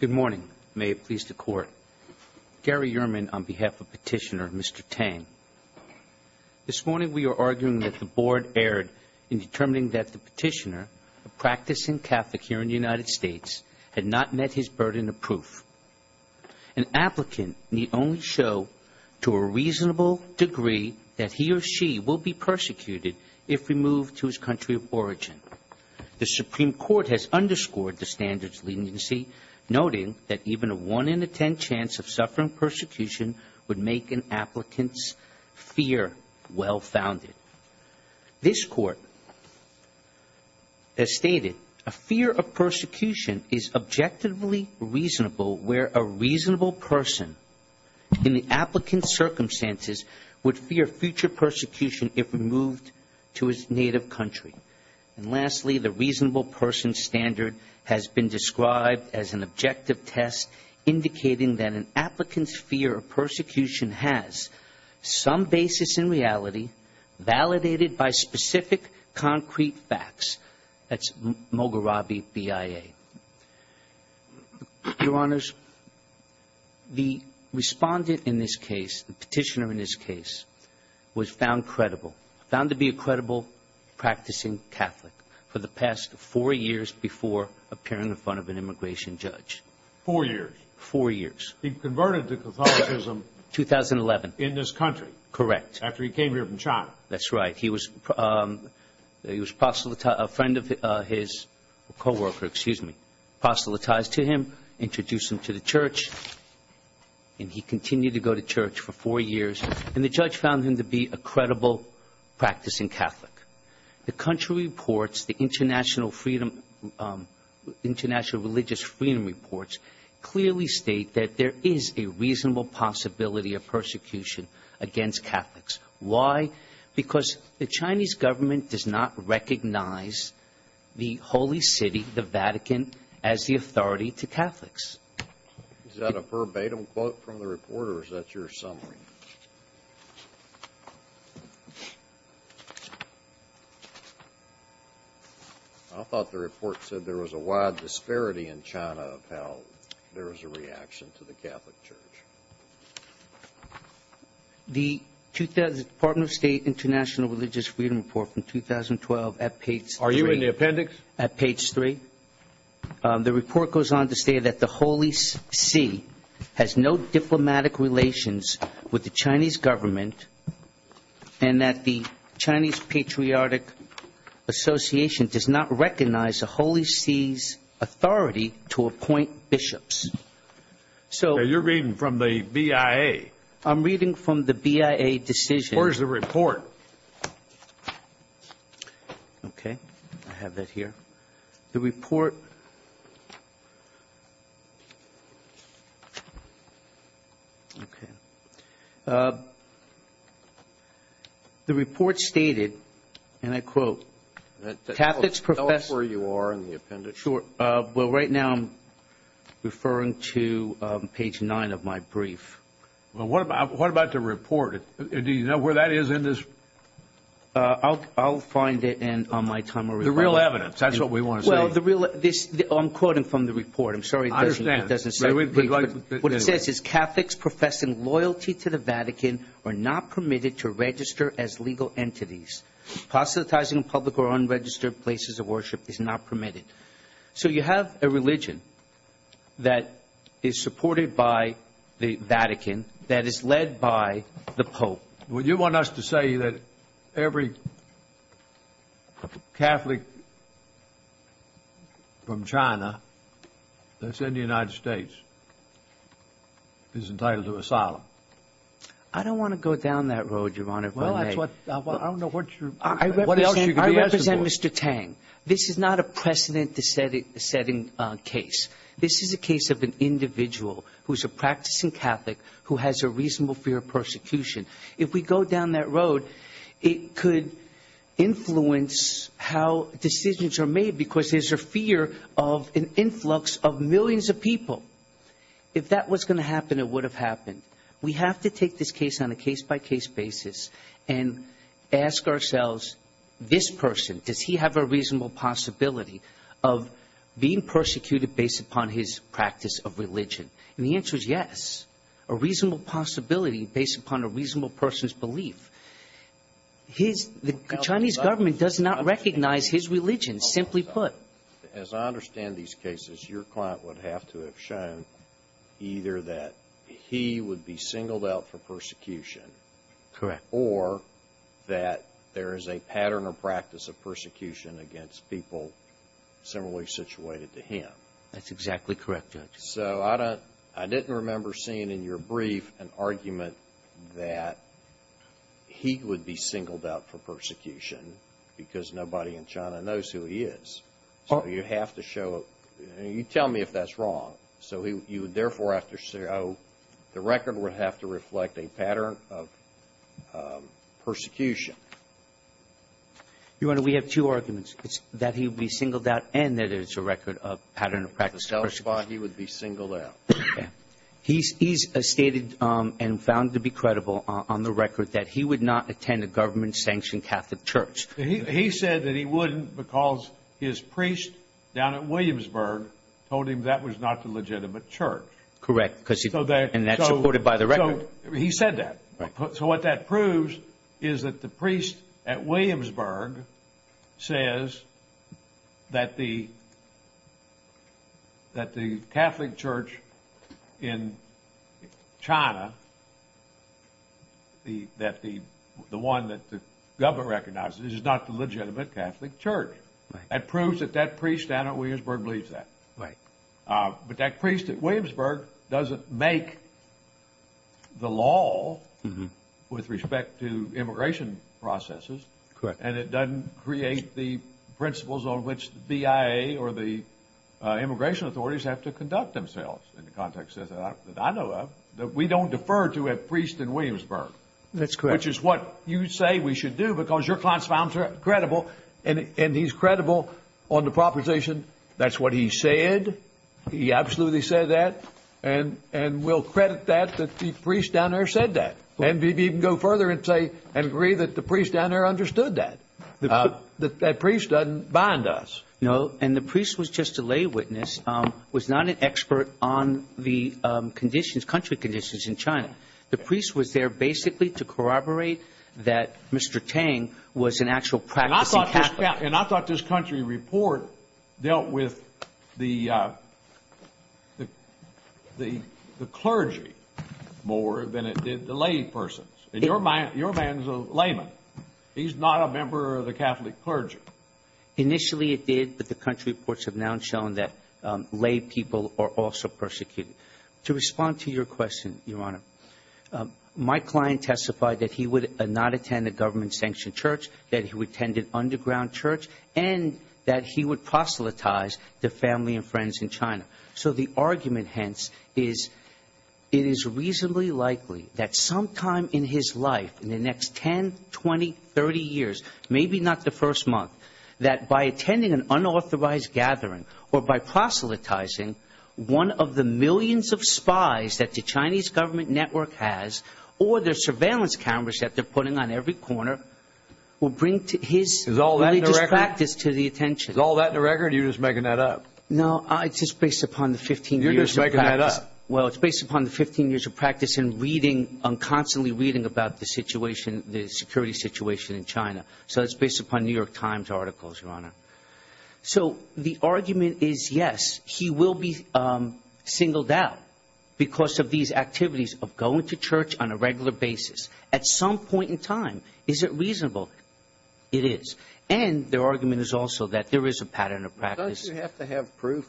Good morning. May it please the Court. Gary Ehrman on behalf of Petitioner, Mr. Tang. This morning we are arguing that the Board erred in determining that the Petitioner, a practicing Catholic here in the United States, had not met his burden of proof. An applicant need only show to a reasonable degree that he or she will be persecuted if removed to his country of origin. The Supreme Court has underscored the standards leniency, noting that even a 1 in 10 chance of suffering persecution would make an applicant's fear well-founded. This Court has stated, a fear of persecution is objectively reasonable where a reasonable person in the applicant's circumstances would fear future persecution if removed to his native country. And lastly, the reasonable person standard has been described as an objective test indicating that an applicant's fear of persecution has some basis in reality validated by specific concrete facts. That's Mogharabi BIA. Your Honors, the Respondent in this case, the Petitioner in this case, was found credible, found to be a credible practicing Catholic for the past four years before appearing in front of an immigration judge. Four years? Four years. He converted to Catholicism 2011. In this country? Correct. After he came here from China? That's right. He was, he was, a friend of his, a co-worker, excuse me, apostolatized to him, introduced him to the church, and he continued to go to church for four years. And the judge found him to be a credible practicing Catholic. The country reports, the international freedom, international religious freedom reports, clearly state that there is a reasonable possibility of persecution against Catholics. Why? Because the Chinese government does not recognize the Holy City, the Vatican, as the authority to Catholics. Is that a verbatim quote from the report, or is that your summary? I thought the report said there was a wide disparity in China of how there is a reaction to the Catholic Church. The Department of State International Religious Freedom Report from 2012 at page three. Are you in the appendix? At page three. The report goes on to say that the Holy See has no diplomatic relations with the Chinese government and that the Chinese Patriotic Association does not recognize the Holy See's authority to appoint bishops. So you're reading from the BIA? I'm reading from the BIA decision. Where's the report? Okay. I have that here. The report... The report stated, and I quote, Catholics profess... Tell us where you are in the appendix. Well, right now I'm referring to page nine of my brief. Well, what about the report? Do you know where that is in this... I'll find it and on my time... The real evidence. That's what we want to see. Well, the real... I'm quoting from the report. I'm sorry if it doesn't... I understand. What it says is, Catholics professing loyalty to the Vatican are not permitted to register as legal entities. Apostatizing in public or unregistered places of worship is not permitted. So you have a religion that is supported by the Vatican that is led by the Pope. Well, you want us to say that every Catholic from China that's in the United States is entitled to asylum. I don't want to go down that road, Your Honor, if I may. Well, that's what... I don't know what you're... I represent Mr. Tang. This is not a precedent-setting case. This is a case of an individual who's a practicing Catholic who has a reasonable fear of persecution. If we go down that road, it could influence how decisions are made because there's a fear of an influx of millions of people. If that was going to happen, it would have happened. We have to take this case on a case-by-case basis and ask ourselves, this person, does he have a reasonable possibility of being persecuted based upon his practice of religion? And the answer is yes, a reasonable possibility based upon a reasonable person's belief. His Chinese government does not recognize his religion, simply put. But as I understand these cases, your client would have to have shown either that he would be singled out for persecution... Correct. ...or that there is a pattern or practice of persecution against people similarly situated to him. That's exactly correct, Your Honor. So I didn't remember seeing in your brief an argument that he would be singled out for persecution because nobody in China knows who he is. So you have to show it. You tell me if that's wrong. So you would therefore have to show the record would have to reflect a pattern of persecution. Your Honor, we have two arguments. It's that he would be singled out and that it's a record of pattern of practice of persecution. He would be singled out. Okay. He's stated and found to be credible on the record that he would not attend a government-sanctioned Catholic church. He said that he wouldn't because his priest down at Williamsburg told him that was not the legitimate church. Correct. And that's supported by the record. He said that. So what that proves is that the priest at Williamsburg says that the Catholic church in China, that the one that the government recognizes is not the legitimate Catholic church. Right. That proves that that priest down at Williamsburg believes that. Right. But that priest at Williamsburg doesn't make the law with respect to immigration processes. Correct. And it doesn't create the principles on which the BIA or the immigration authorities have to conduct themselves in the context that I know of, that we don't defer to a priest in Williamsburg. That's correct. Which is what you say we should do because your client's found credible and he's credible on the proposition. That's what he said. He absolutely said that. And we'll credit that, that the priest down there said that. And we can go further and say and agree that the priest down there understood that, that that priest doesn't bind us. No. And the priest was just a lay witness, was not an expert on the conditions, country conditions in China. The priest was there basically to corroborate that Mr. Tang was an actual practicing Catholic. And I thought this country report dealt with the clergy more than it did the lay persons. In your mind, your man's a layman. He's not a member of the Catholic clergy. Initially it did, but the country reports have now shown that lay people are also persecuted. To respond to your question, Your Honor, my client testified that he would not attend a government-sanctioned church, that he would attend an underground church, and that he would proselytize to family and friends in China. So the argument, hence, is it is reasonably likely that sometime in his life, in the next 10, 20, 30 years, maybe not the first month, that by attending an unauthorized gathering or by proselytizing, one of the millions of spies that the Chinese government network has, or their surveillance cameras that they're putting on every corner, will bring his religious practice to the attention. Is all that in the record, or are you just making that up? No, it's just based upon the 15 years of practice. You're just making that up. So it's based upon New York Times articles, Your Honor. So the argument is, yes, he will be singled out because of these activities of going to church on a regular basis. At some point in time, is it reasonable? It is. And their argument is also that there is a pattern of practice. Don't you have to have proof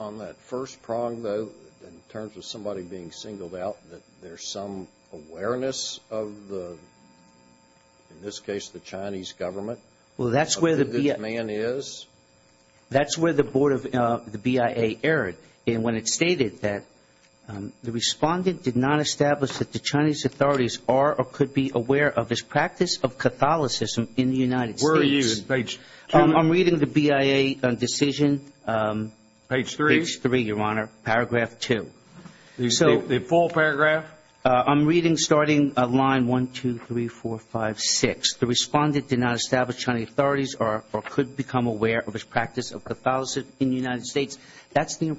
on that first prong, though, in terms of somebody being singled out, that there's some awareness of the, in this case, the Chinese government, of who this man is? That's where the board of the BIA erred, and when it stated that the respondent did not establish that the Chinese authorities are or could be aware of his practice of Catholicism in the United States. Where are you in page 2? I'm reading the BIA decision. Page 3? Page 3, Your Honor, paragraph 2. The full paragraph? I'm reading starting line 1, 2, 3, 4, 5, 6. The respondent did not establish Chinese authorities or could become aware of his practice of Catholicism in the United States. That's the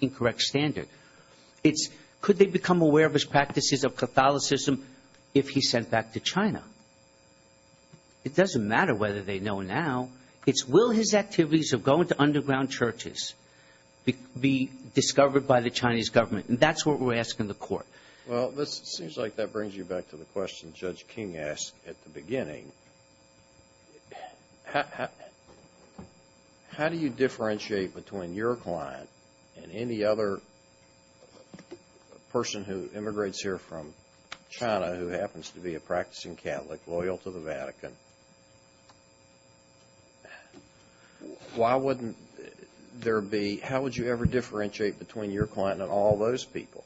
incorrect standard. It's could they become aware of his practices of Catholicism if he's sent back to China. It doesn't matter whether they know now. It's will his activities of going to underground churches be discovered by the Chinese government, and that's what we're asking the court. Well, it seems like that brings you back to the question Judge King asked at the beginning. How do you differentiate between your client and any other person who immigrates here from China who happens to be a practicing Catholic loyal to the Vatican? How would you ever differentiate between your client and all those people?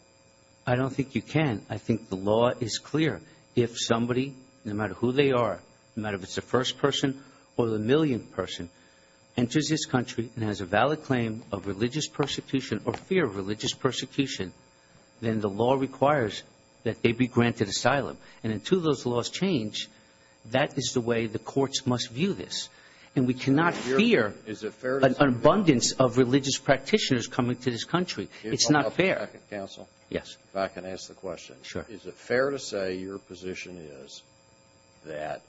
I don't think you can. I think the law is clear. If somebody, no matter who they are, no matter if it's the first person or the millionth person, enters this country and has a valid claim of religious persecution or fear of religious persecution, then the law requires that they be granted asylum. And until those laws change, that is the way the courts must view this. And we cannot fear an abundance of religious practitioners coming to this country. It's not fair. Counsel? Yes. If I can ask the question. Sure. Is it fair to say your position is that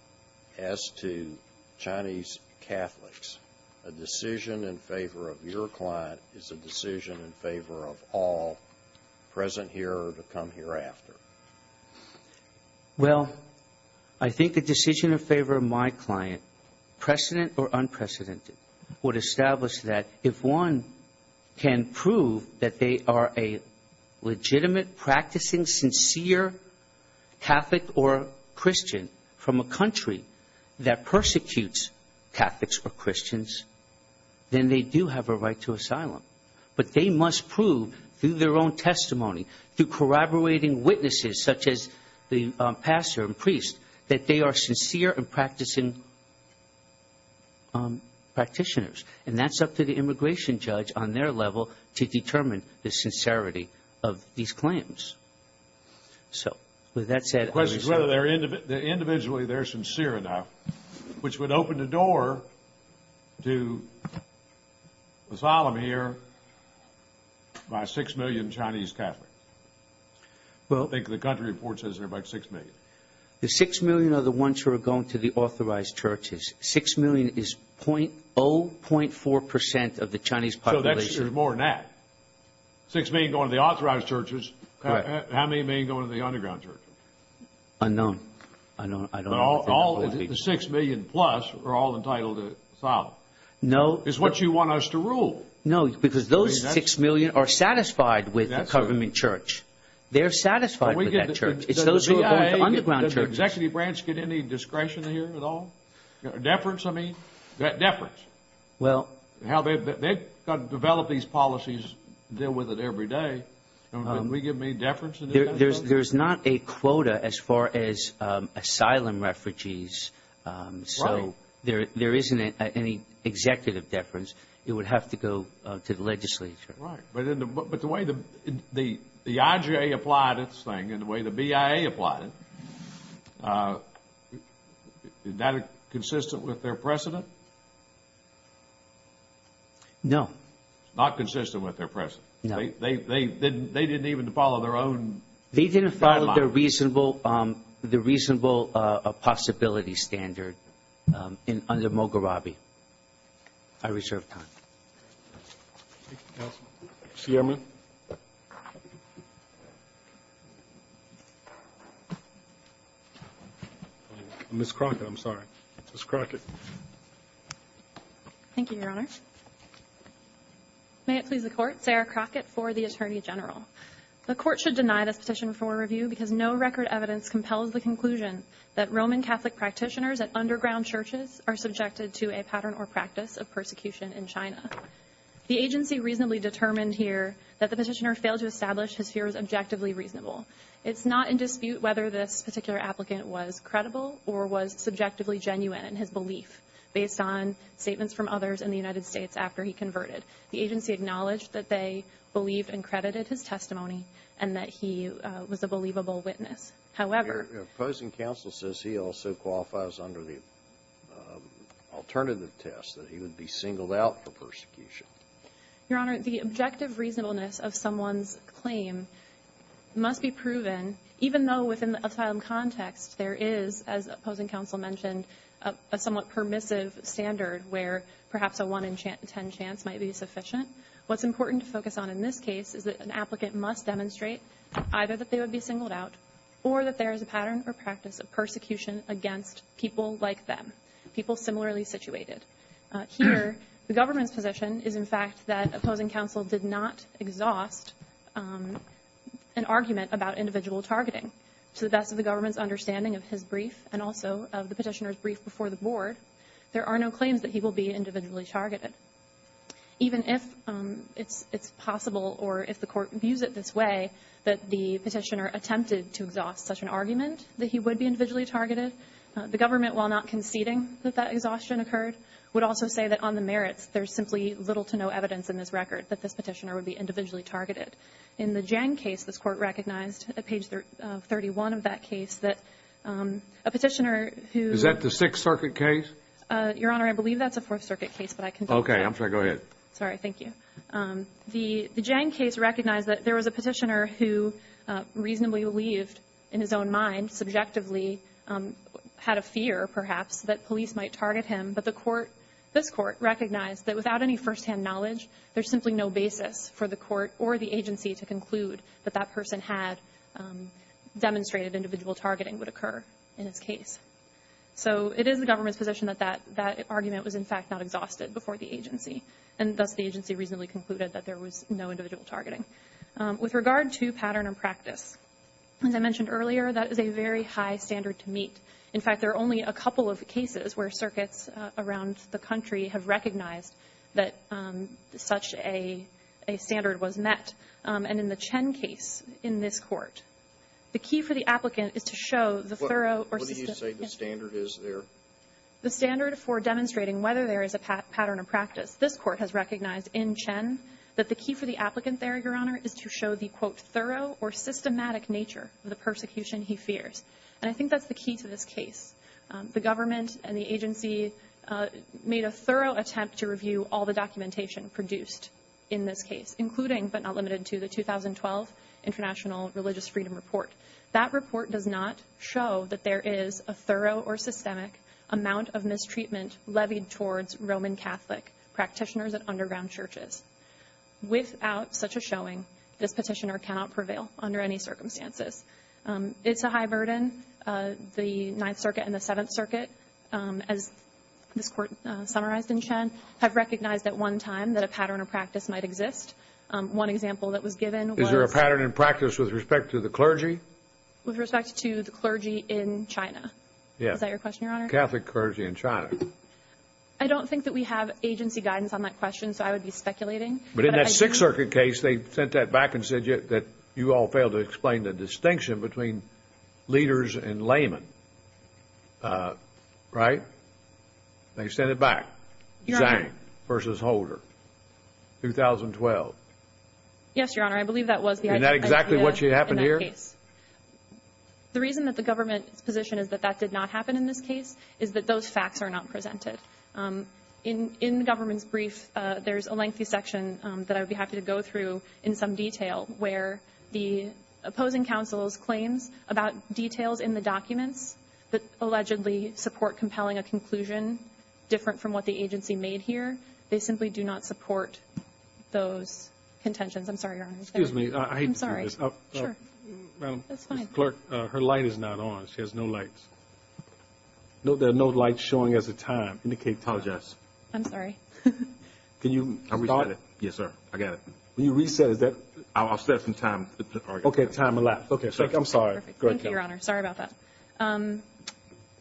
as to Chinese Catholics, a decision in favor of your client is a decision in favor of all present here or to come hereafter? Well, I think a decision in favor of my client, precedent or unprecedented, would establish that if one can prove that they are a legitimate, practicing, sincere Catholic or Christian from a country that persecutes Catholics or Christians, then they do have a right to asylum. But they must prove through their own testimony, through corroborating witnesses such as the pastor and priest, that they are sincere and practicing practitioners. And that's up to the immigration judge on their level to determine the sincerity of these claims. So with that said. The question is whether individually they're sincere enough, which would open the door to asylum here by 6 million Chinese Catholics. I think the country report says there are about 6 million. The 6 million are the ones who are going to the authorized churches. 6 million is 0.4 percent of the Chinese population. So there's more than that. 6 million going to the authorized churches. How many are going to the underground churches? Unknown. I don't know. The 6 million plus are all entitled to asylum. No. It's what you want us to rule. No, because those 6 million are satisfied with the government church. They're satisfied with that church. It's those who are going to underground churches. Does the Executive Branch get any discretion here at all? Deference, I mean. Deference. They've got to develop these policies and deal with it every day. Can we give them any deference? There's not a quota as far as asylum refugees. Right. So there isn't any executive deference. It would have to go to the legislature. Right. But the way the IJA applied this thing and the way the BIA applied it, is that consistent with their precedent? No. It's not consistent with their precedent. No. They didn't even follow their own timeline. They didn't follow the reasonable possibility standard under Moghrabi. I reserve time. Thank you, counsel. Ms. Ciarmon. Ms. Crockett, I'm sorry. Ms. Crockett. Thank you, Your Honor. May it please the Court, Sarah Crockett for the Attorney General. The Court should deny this petition for review because no record evidence compels the conclusion that Roman Catholic practitioners at underground churches are subjected to a pattern or practice of persecution in China. The agency reasonably determined here that the petitioner failed to establish his fear was objectively reasonable. It's not in dispute whether this particular applicant was credible or was subjectively genuine in his belief, based on statements from others in the United States after he converted. The agency acknowledged that they believed and credited his testimony and that he was a believable witness. However. Your opposing counsel says he also qualifies under the alternative test, that he would be singled out for persecution. Your Honor, the objective reasonableness of someone's claim must be proven, even though within the asylum context there is, as opposing counsel mentioned, a somewhat permissive standard where perhaps a 1 in 10 chance might be sufficient. What's important to focus on in this case is that an applicant must demonstrate either that they would be singled out or that there is a pattern or practice of persecution against people like them, people similarly situated. Here, the government's position is, in fact, that opposing counsel did not exhaust an argument about individual targeting. To the best of the government's understanding of his brief and also of the petitioner's brief before the board, there are no claims that he will be individually targeted. Even if it's possible or if the Court views it this way, that the petitioner attempted to exhaust such an argument that he would be individually targeted, the government, while not conceding that that exhaustion occurred, would also say that on the merits there's simply little to no evidence in this record that this petitioner would be individually targeted. In the Jang case, this Court recognized at page 31 of that case that a petitioner who — Is that the Sixth Circuit case? Your Honor, I believe that's a Fourth Circuit case, but I can tell you that. Okay. I'm sorry. Go ahead. Sorry. Thank you. The Jang case recognized that there was a petitioner who reasonably believed, in his own mind, subjectively, had a fear, perhaps, that police might target him. But the Court, this Court, recognized that without any firsthand knowledge, there's simply no basis for the Court or the agency to conclude that that person had demonstrated individual targeting would occur in his case. So it is the government's position that that argument was, in fact, not exhausted before the agency, and thus the agency reasonably concluded that there was no individual targeting. With regard to pattern and practice, as I mentioned earlier, that is a very high standard to meet. In fact, there are only a couple of cases where circuits around the country have recognized that such a standard was met. And in the Chen case, in this Court, the key for the applicant is to show the thorough What do you say the standard is there? The standard for demonstrating whether there is a pattern of practice. This Court has recognized in Chen that the key for the applicant there, Your Honor, is to show the, quote, thorough or systematic nature of the persecution he fears. And I think that's the key to this case. The government and the agency made a thorough attempt to review all the documentation produced in this case, including, but not limited to, the 2012 International Religious Freedom Report. That report does not show that there is a thorough or systemic amount of mistreatment levied towards Roman Catholic practitioners at underground churches. Without such a showing, this petitioner cannot prevail under any circumstances. It's a high burden. The Ninth Circuit and the Seventh Circuit, as this Court summarized in Chen, have recognized at one time that a pattern of practice might exist. One example that was given was Is there a pattern of practice with respect to the clergy? With respect to the clergy in China. Is that your question, Your Honor? Catholic clergy in China. I don't think that we have agency guidance on that question, so I would be speculating. But in that Sixth Circuit case, they sent that back and said that you all failed to explain the distinction between leaders and laymen. Right? They sent it back. Your Honor. Zhang versus Holder. 2012. Yes, Your Honor. I believe that was the idea. Is that exactly what happened here? In that case. The reason that the government's position is that that did not happen in this case is that those facts are not presented. In the government's brief, there's a lengthy section that I would be happy to go through in some detail where the opposing counsel's claims about details in the documents that allegedly support compelling a conclusion different from what the agency made here, they simply do not support those contentions. I'm sorry, Your Honor. Excuse me. I hate to do this. I'm sorry. Sure. That's fine. Madam Clerk, her light is not on. She has no lights. There are no lights showing as of time. Indicate. Apologize. I'm sorry. Can you restart? Yes, sir. I got it. When you reset, is that? I'll set some time. Okay. Time elapsed. Okay. I'm sorry. Thank you, Your Honor. Sorry about that.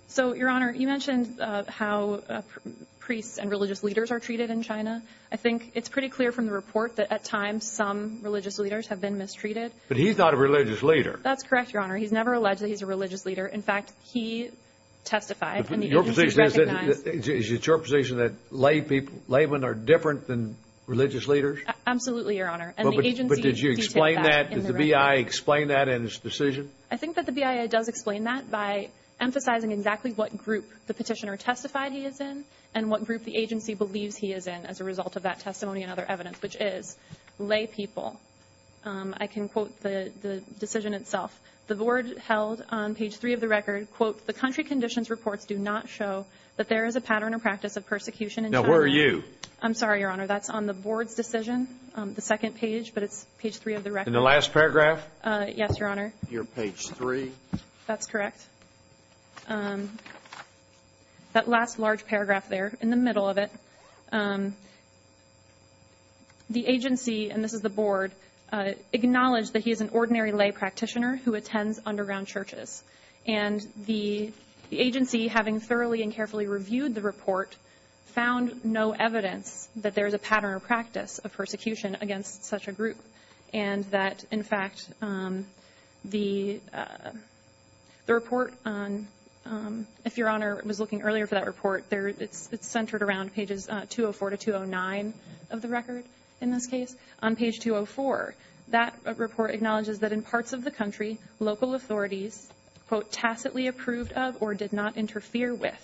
So, Your Honor, you mentioned how priests and religious leaders are treated in China. I think it's pretty clear from the report that at times some religious leaders have been mistreated. But he's not a religious leader. That's correct, Your Honor. He's never alleged that he's a religious leader. In fact, he testified. Your position is that laymen are different than religious leaders? Absolutely, Your Honor. But did you explain that? Did the BIA explain that in its decision? I think that the BIA does explain that by emphasizing exactly what group the petitioner testified he is in and what group the agency believes he is in as a result of that testimony and other evidence, which is laypeople. I can quote the decision itself. The board held on page three of the record, quote, the country conditions reports do not show that there is a pattern or practice of persecution in China. Now, where are you? I'm sorry, Your Honor. That's on the board's decision, the second page, but it's page three of the record. And the last paragraph? Yes, Your Honor. Your page three? That's correct. That last large paragraph there, in the middle of it, the agency, and this is the board, acknowledged that he is an ordinary lay practitioner who attends underground churches. And the agency, having thoroughly and carefully reviewed the report, found no evidence that there is a pattern or practice of persecution against such a group and that, in fact, the report on, if Your Honor was looking earlier for that report, it's centered around pages 204 to 209 of the record in this case. On page 204, that report acknowledges that in parts of the country, local authorities, quote, tacitly approved of or did not interfere with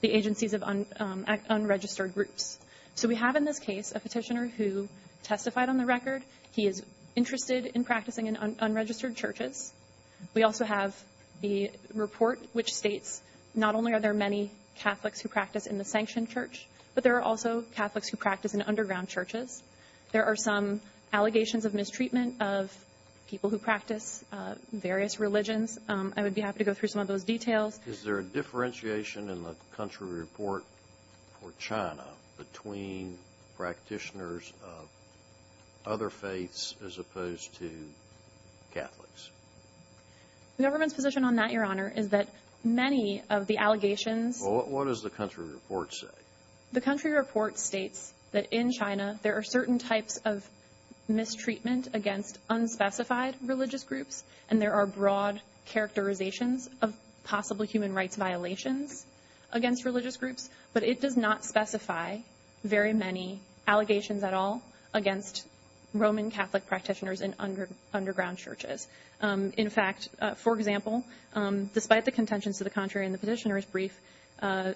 the agencies of unregistered groups. So we have in this case a petitioner who testified on the record. He is interested in practicing in unregistered churches. We also have the report which states not only are there many Catholics who practice in the sanctioned church, but there are also Catholics who practice in underground churches. There are some allegations of mistreatment of people who practice various religions. I would be happy to go through some of those details. Is there a differentiation in the country report for China between practitioners of other faiths as opposed to Catholics? The government's position on that, Your Honor, is that many of the allegations. Well, what does the country report say? The country report states that in China there are certain types of mistreatment against unspecified religious groups and there are broad characterizations of possible human rights violations against religious groups, but it does not specify very many allegations at all against Roman Catholic practitioners in underground churches. In fact, for example, despite the contentions to the contrary in the petitioner's brief,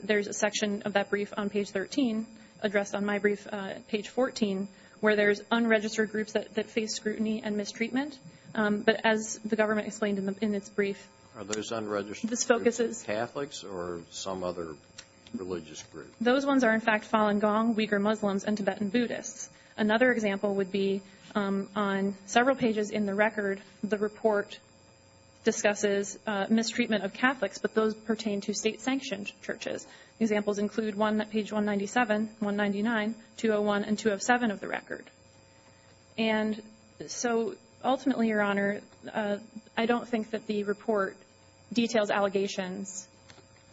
there's a section of that brief on page 13 addressed on my brief, page 14, where there's unregistered groups that face scrutiny and mistreatment. But as the government explained in its brief, this focuses. Are those unregistered Catholics or some other religious group? Those ones are, in fact, Falun Gong, Uyghur Muslims, and Tibetan Buddhists. Another example would be on several pages in the record, the report discusses mistreatment of Catholics, but those pertain to state-sanctioned churches. Examples include one on page 197, 199, 201, and 207 of the record. And so ultimately, Your Honor, I don't think that the report details allegations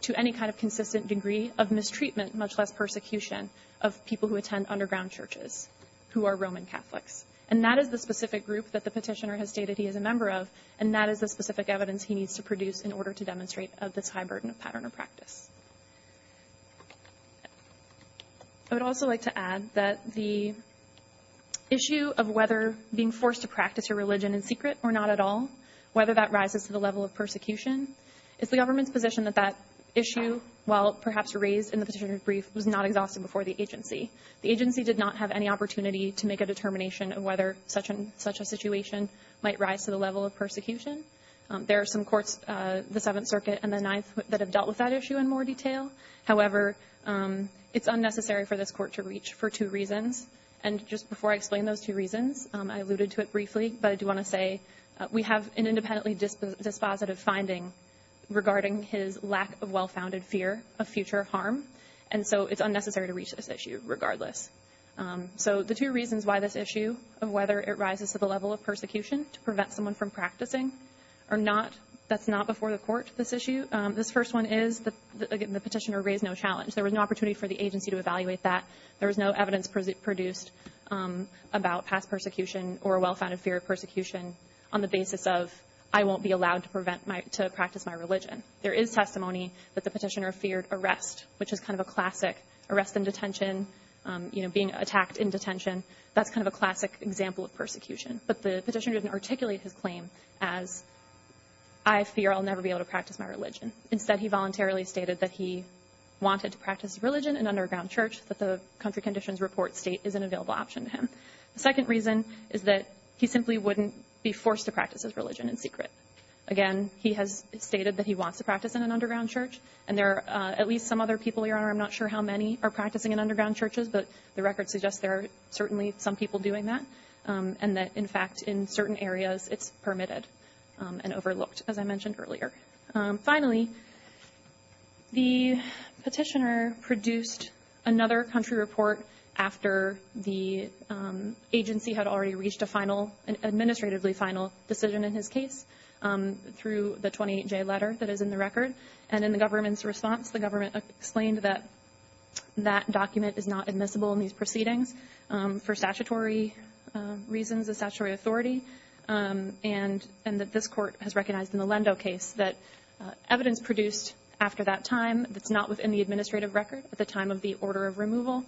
to any kind of consistent degree of mistreatment, much less persecution, of people who attend underground churches who are Roman Catholics. And that is the specific group that the petitioner has stated he is a member of, and that is the specific evidence he needs to produce in order to demonstrate of this high burden of pattern of practice. I would also like to add that the issue of whether being forced to practice your religion in secret or not at all, whether that rises to the level of persecution, it's the government's position that that issue, while perhaps raised in the petitioner's brief, was not exhausted before the agency. The agency did not have any opportunity to make a determination of whether such a situation might rise to the level of persecution. There are some courts, the Seventh Circuit and the Ninth, that have dealt with that issue in more detail. However, it's unnecessary for this court to reach for two reasons. And just before I explain those two reasons, I alluded to it briefly, but I do want to say we have an independently dispositive finding regarding his lack of well-founded fear of future harm, and so it's unnecessary to reach this issue regardless. So the two reasons why this issue of whether it rises to the level of persecution to prevent someone from practicing or not, that's not before the court, this issue. This first one is the petitioner raised no challenge. There was no opportunity for the agency to evaluate that. There was no evidence produced about past persecution or a well-founded fear of persecution on the basis of I won't be allowed to practice my religion. There is testimony that the petitioner feared arrest, which is kind of a classic. Arrest in detention, you know, being attacked in detention, that's kind of a classic example of persecution. But the petitioner didn't articulate his claim as I fear I'll never be able to practice my religion. Instead, he voluntarily stated that he wanted to practice religion in an underground church, that the country conditions report state is an available option to him. The second reason is that he simply wouldn't be forced to practice his religion in secret. Again, he has stated that he wants to practice in an underground church, and there are at least some other people, Your Honor, I'm not sure how many are practicing in underground churches, but the record suggests there are certainly some people doing that, and that, in fact, in certain areas, it's permitted and overlooked, as I mentioned earlier. Finally, the petitioner produced another country report after the agency had already reached an administratively final decision in his case through the 28-J letter that is in the record, and in the government's response, the government explained that that document is not admissible in these proceedings for statutory reasons, a statutory authority, and that this court has recognized in the Lendo case that evidence produced after that time that's not within the administrative record at the time of the order of removal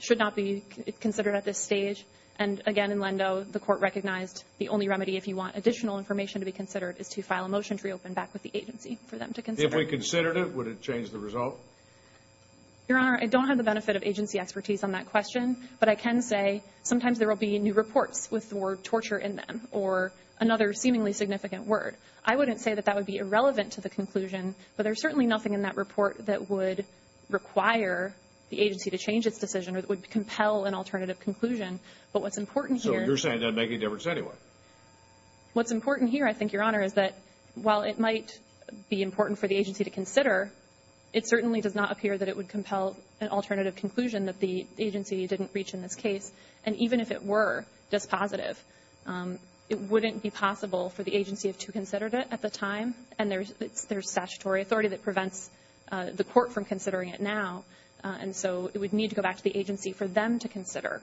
should not be considered at this stage. And, again, in Lendo, the court recognized the only remedy, if you want additional information to be considered, is to file a motion to reopen back with the agency for them to consider. If we considered it, would it change the result? Your Honor, I don't have the benefit of agency expertise on that question. But I can say sometimes there will be new reports with the word torture in them or another seemingly significant word. I wouldn't say that that would be irrelevant to the conclusion, but there's certainly nothing in that report that would require the agency to change its decision or that would compel an alternative conclusion. But what's important here – So you're saying it doesn't make any difference anyway? What's important here, I think, Your Honor, is that while it might be important for the agency to consider, it certainly does not appear that it would compel an alternative conclusion that the agency didn't reach in this case. And even if it were just positive, it wouldn't be possible for the agency to have considered it at the time. And there's statutory authority that prevents the court from considering it now. And so it would need to go back to the agency for them to consider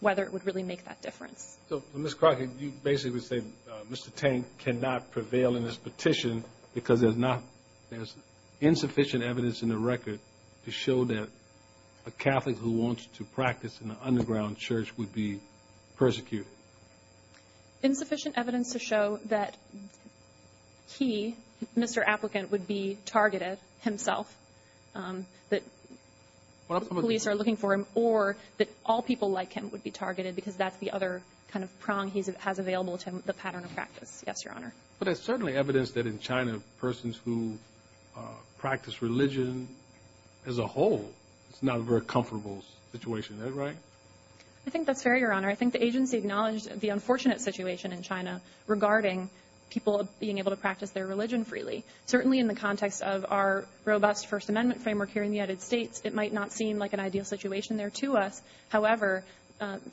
whether it would really make that difference. So, Ms. Crockett, you basically would say Mr. Tank cannot prevail in this petition because there's insufficient evidence in the record to show that a Catholic who wants to practice in an underground church would be persecuted? Insufficient evidence to show that he, Mr. Applicant, would be targeted himself, that police are looking for him, or that all people like him would be targeted because that's the other kind of prong he has available to him, the pattern of practice. Yes, Your Honor. But there's certainly evidence that in China, persons who practice religion as a whole, it's not a very comfortable situation. Is that right? I think that's fair, Your Honor. I think the agency acknowledged the unfortunate situation in China regarding people being able to practice their religion freely. Certainly in the context of our robust First Amendment framework here in the United States, it might not seem like an ideal situation there to us. However,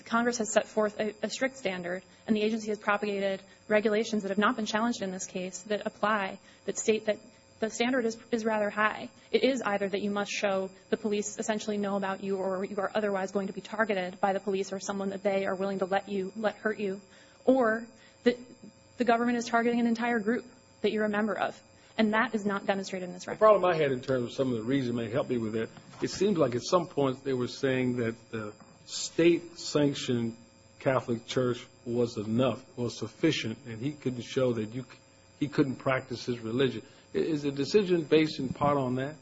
Congress has set forth a strict standard, and the agency has propagated regulations that have not been challenged in this case that apply, that state that the standard is rather high. It is either that you must show the police essentially know about you or you are otherwise going to be targeted by the police or someone that they are willing to let hurt you, or that the government is targeting an entire group that you're a member of, and that is not demonstrated in this record. The problem I had in terms of some of the reasons that may help me with it, it seemed like at some point they were saying that the state-sanctioned Catholic Church was enough, was sufficient, and he couldn't show that he couldn't practice his religion. Is the decision based in part on that?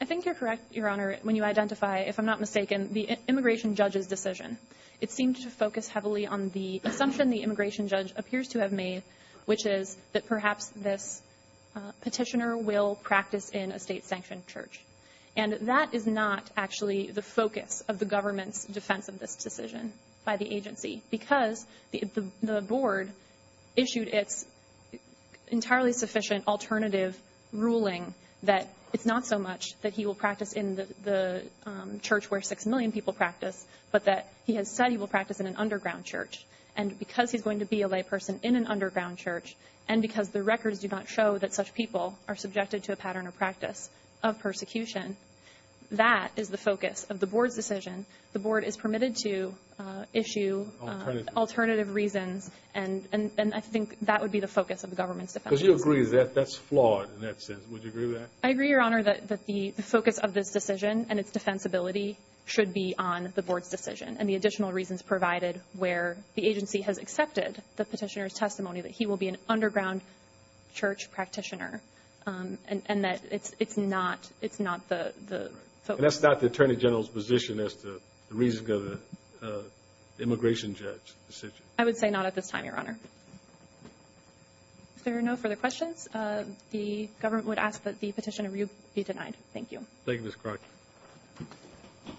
I think you're correct, Your Honor, when you identify, if I'm not mistaken, the immigration judge's decision. It seemed to focus heavily on the assumption the immigration judge appears to have made, which is that perhaps this petitioner will practice in a state-sanctioned church. And that is not actually the focus of the government's defense of this decision by the agency because the board issued its entirely sufficient alternative ruling that it's not so much that he will practice in the church where 6 million people practice, but that he has said he will practice in an underground church. And because he's going to be a layperson in an underground church and because the records do not show that such people are subjected to a pattern of practice of persecution, that is the focus of the board's decision. The board is permitted to issue alternative reasons, and I think that would be the focus of the government's defense. Because you agree that that's flawed in that sense. Would you agree with that? I agree, Your Honor, that the focus of this decision and its defensibility should be on the board's decision and the additional reasons provided where the agency has accepted the petitioner's testimony that he will be an underground church practitioner and that it's not the focus. And that's not the Attorney General's position as to the reasoning of the immigration judge's decision? I would say not at this time, Your Honor. If there are no further questions, the government would ask that the petitioner be denied. Thank you. Thank you, Ms. Crockett.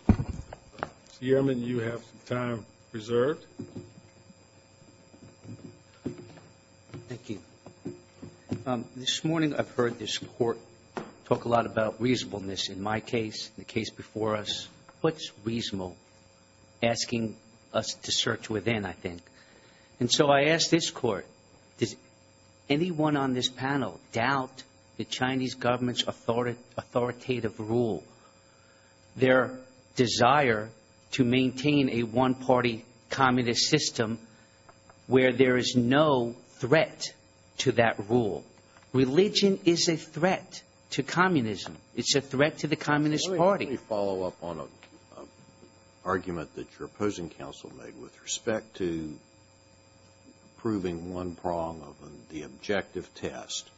Mr. Yearman, you have some time reserved. Thank you. This morning I've heard this Court talk a lot about reasonableness in my case, the case before us. What's reasonable? Asking us to search within, I think. And so I ask this Court, does anyone on this panel doubt the Chinese government's authoritative rule, their desire to maintain a one-party communist system where there is no threat to that rule? Religion is a threat to communism. It's a threat to the Communist Party. Let me follow up on an argument that your opposing counsel made with respect to proving one prong of the objective test.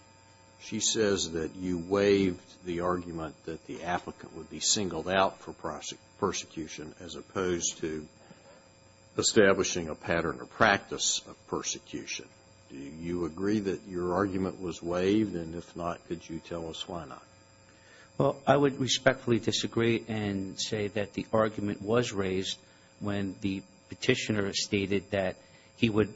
She says that you waived the argument that the applicant would be singled out for persecution as opposed to establishing a pattern or practice of persecution. Do you agree that your argument was waived? And if not, could you tell us why not? Well, I would respectfully disagree and say that the argument was raised when the petitioner stated that he would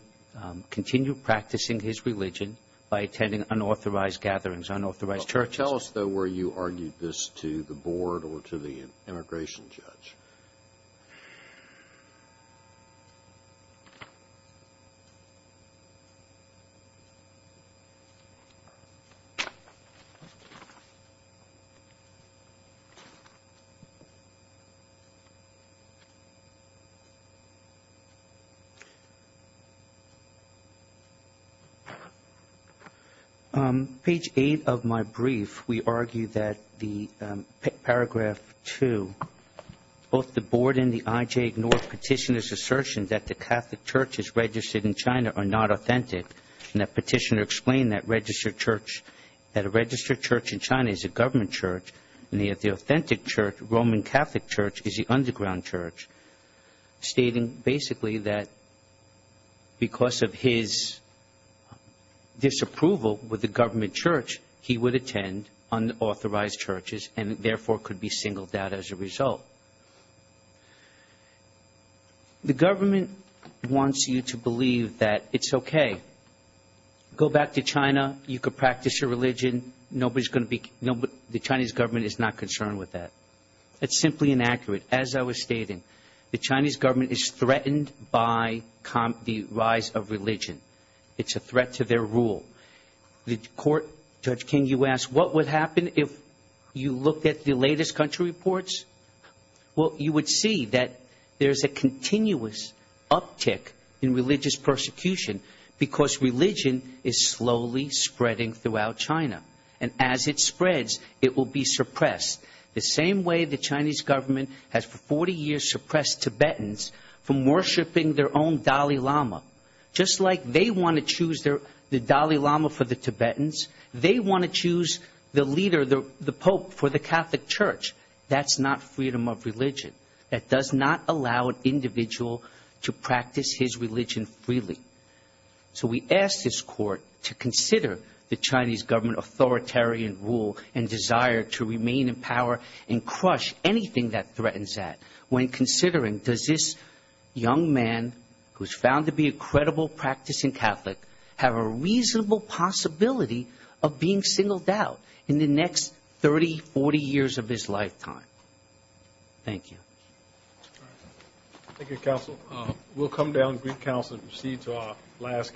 continue practicing his religion by attending unauthorized gatherings, unauthorized churches. Tell us, though, where you argued this to the board or to the immigration judge. Page 8 of my brief, we argue that the paragraph 2, both the board and the IJ ignore petitioner's assertion that the Catholic churches registered in China are not authentic, and that petitioner explained that a registered church in China is a government church, and the authentic Roman Catholic church is the underground church, stating basically that because of his disapproval with the government church, he would attend unauthorized churches and therefore could be singled out as a result. The government wants you to believe that it's okay. Go back to China. You could practice your religion. Nobody's going to be the Chinese government is not concerned with that. It's simply inaccurate. As I was stating, the Chinese government is threatened by the rise of religion. It's a threat to their rule. The court, Judge King, you asked what would happen if you looked at the latest country reports. Well, you would see that there's a continuous uptick in religious persecution because religion is slowly spreading throughout China, and as it spreads, it will be suppressed, the same way the Chinese government has for 40 years suppressed Tibetans from worshiping their own Dalai Lama, just like they want to choose the Dalai Lama for the Tibetans. They want to choose the leader, the pope, for the Catholic Church. That's not freedom of religion. That does not allow an individual to practice his religion freely. So we ask this court to consider the Chinese government authoritarian rule and desire to remain in power and crush anything that threatens that when considering does this young man, who's found to be a credible practicing Catholic, have a reasonable possibility of being singled out in the next 30, 40 years of his lifetime. Thank you. Thank you, counsel. We'll come down to brief counsel and proceed to our last case.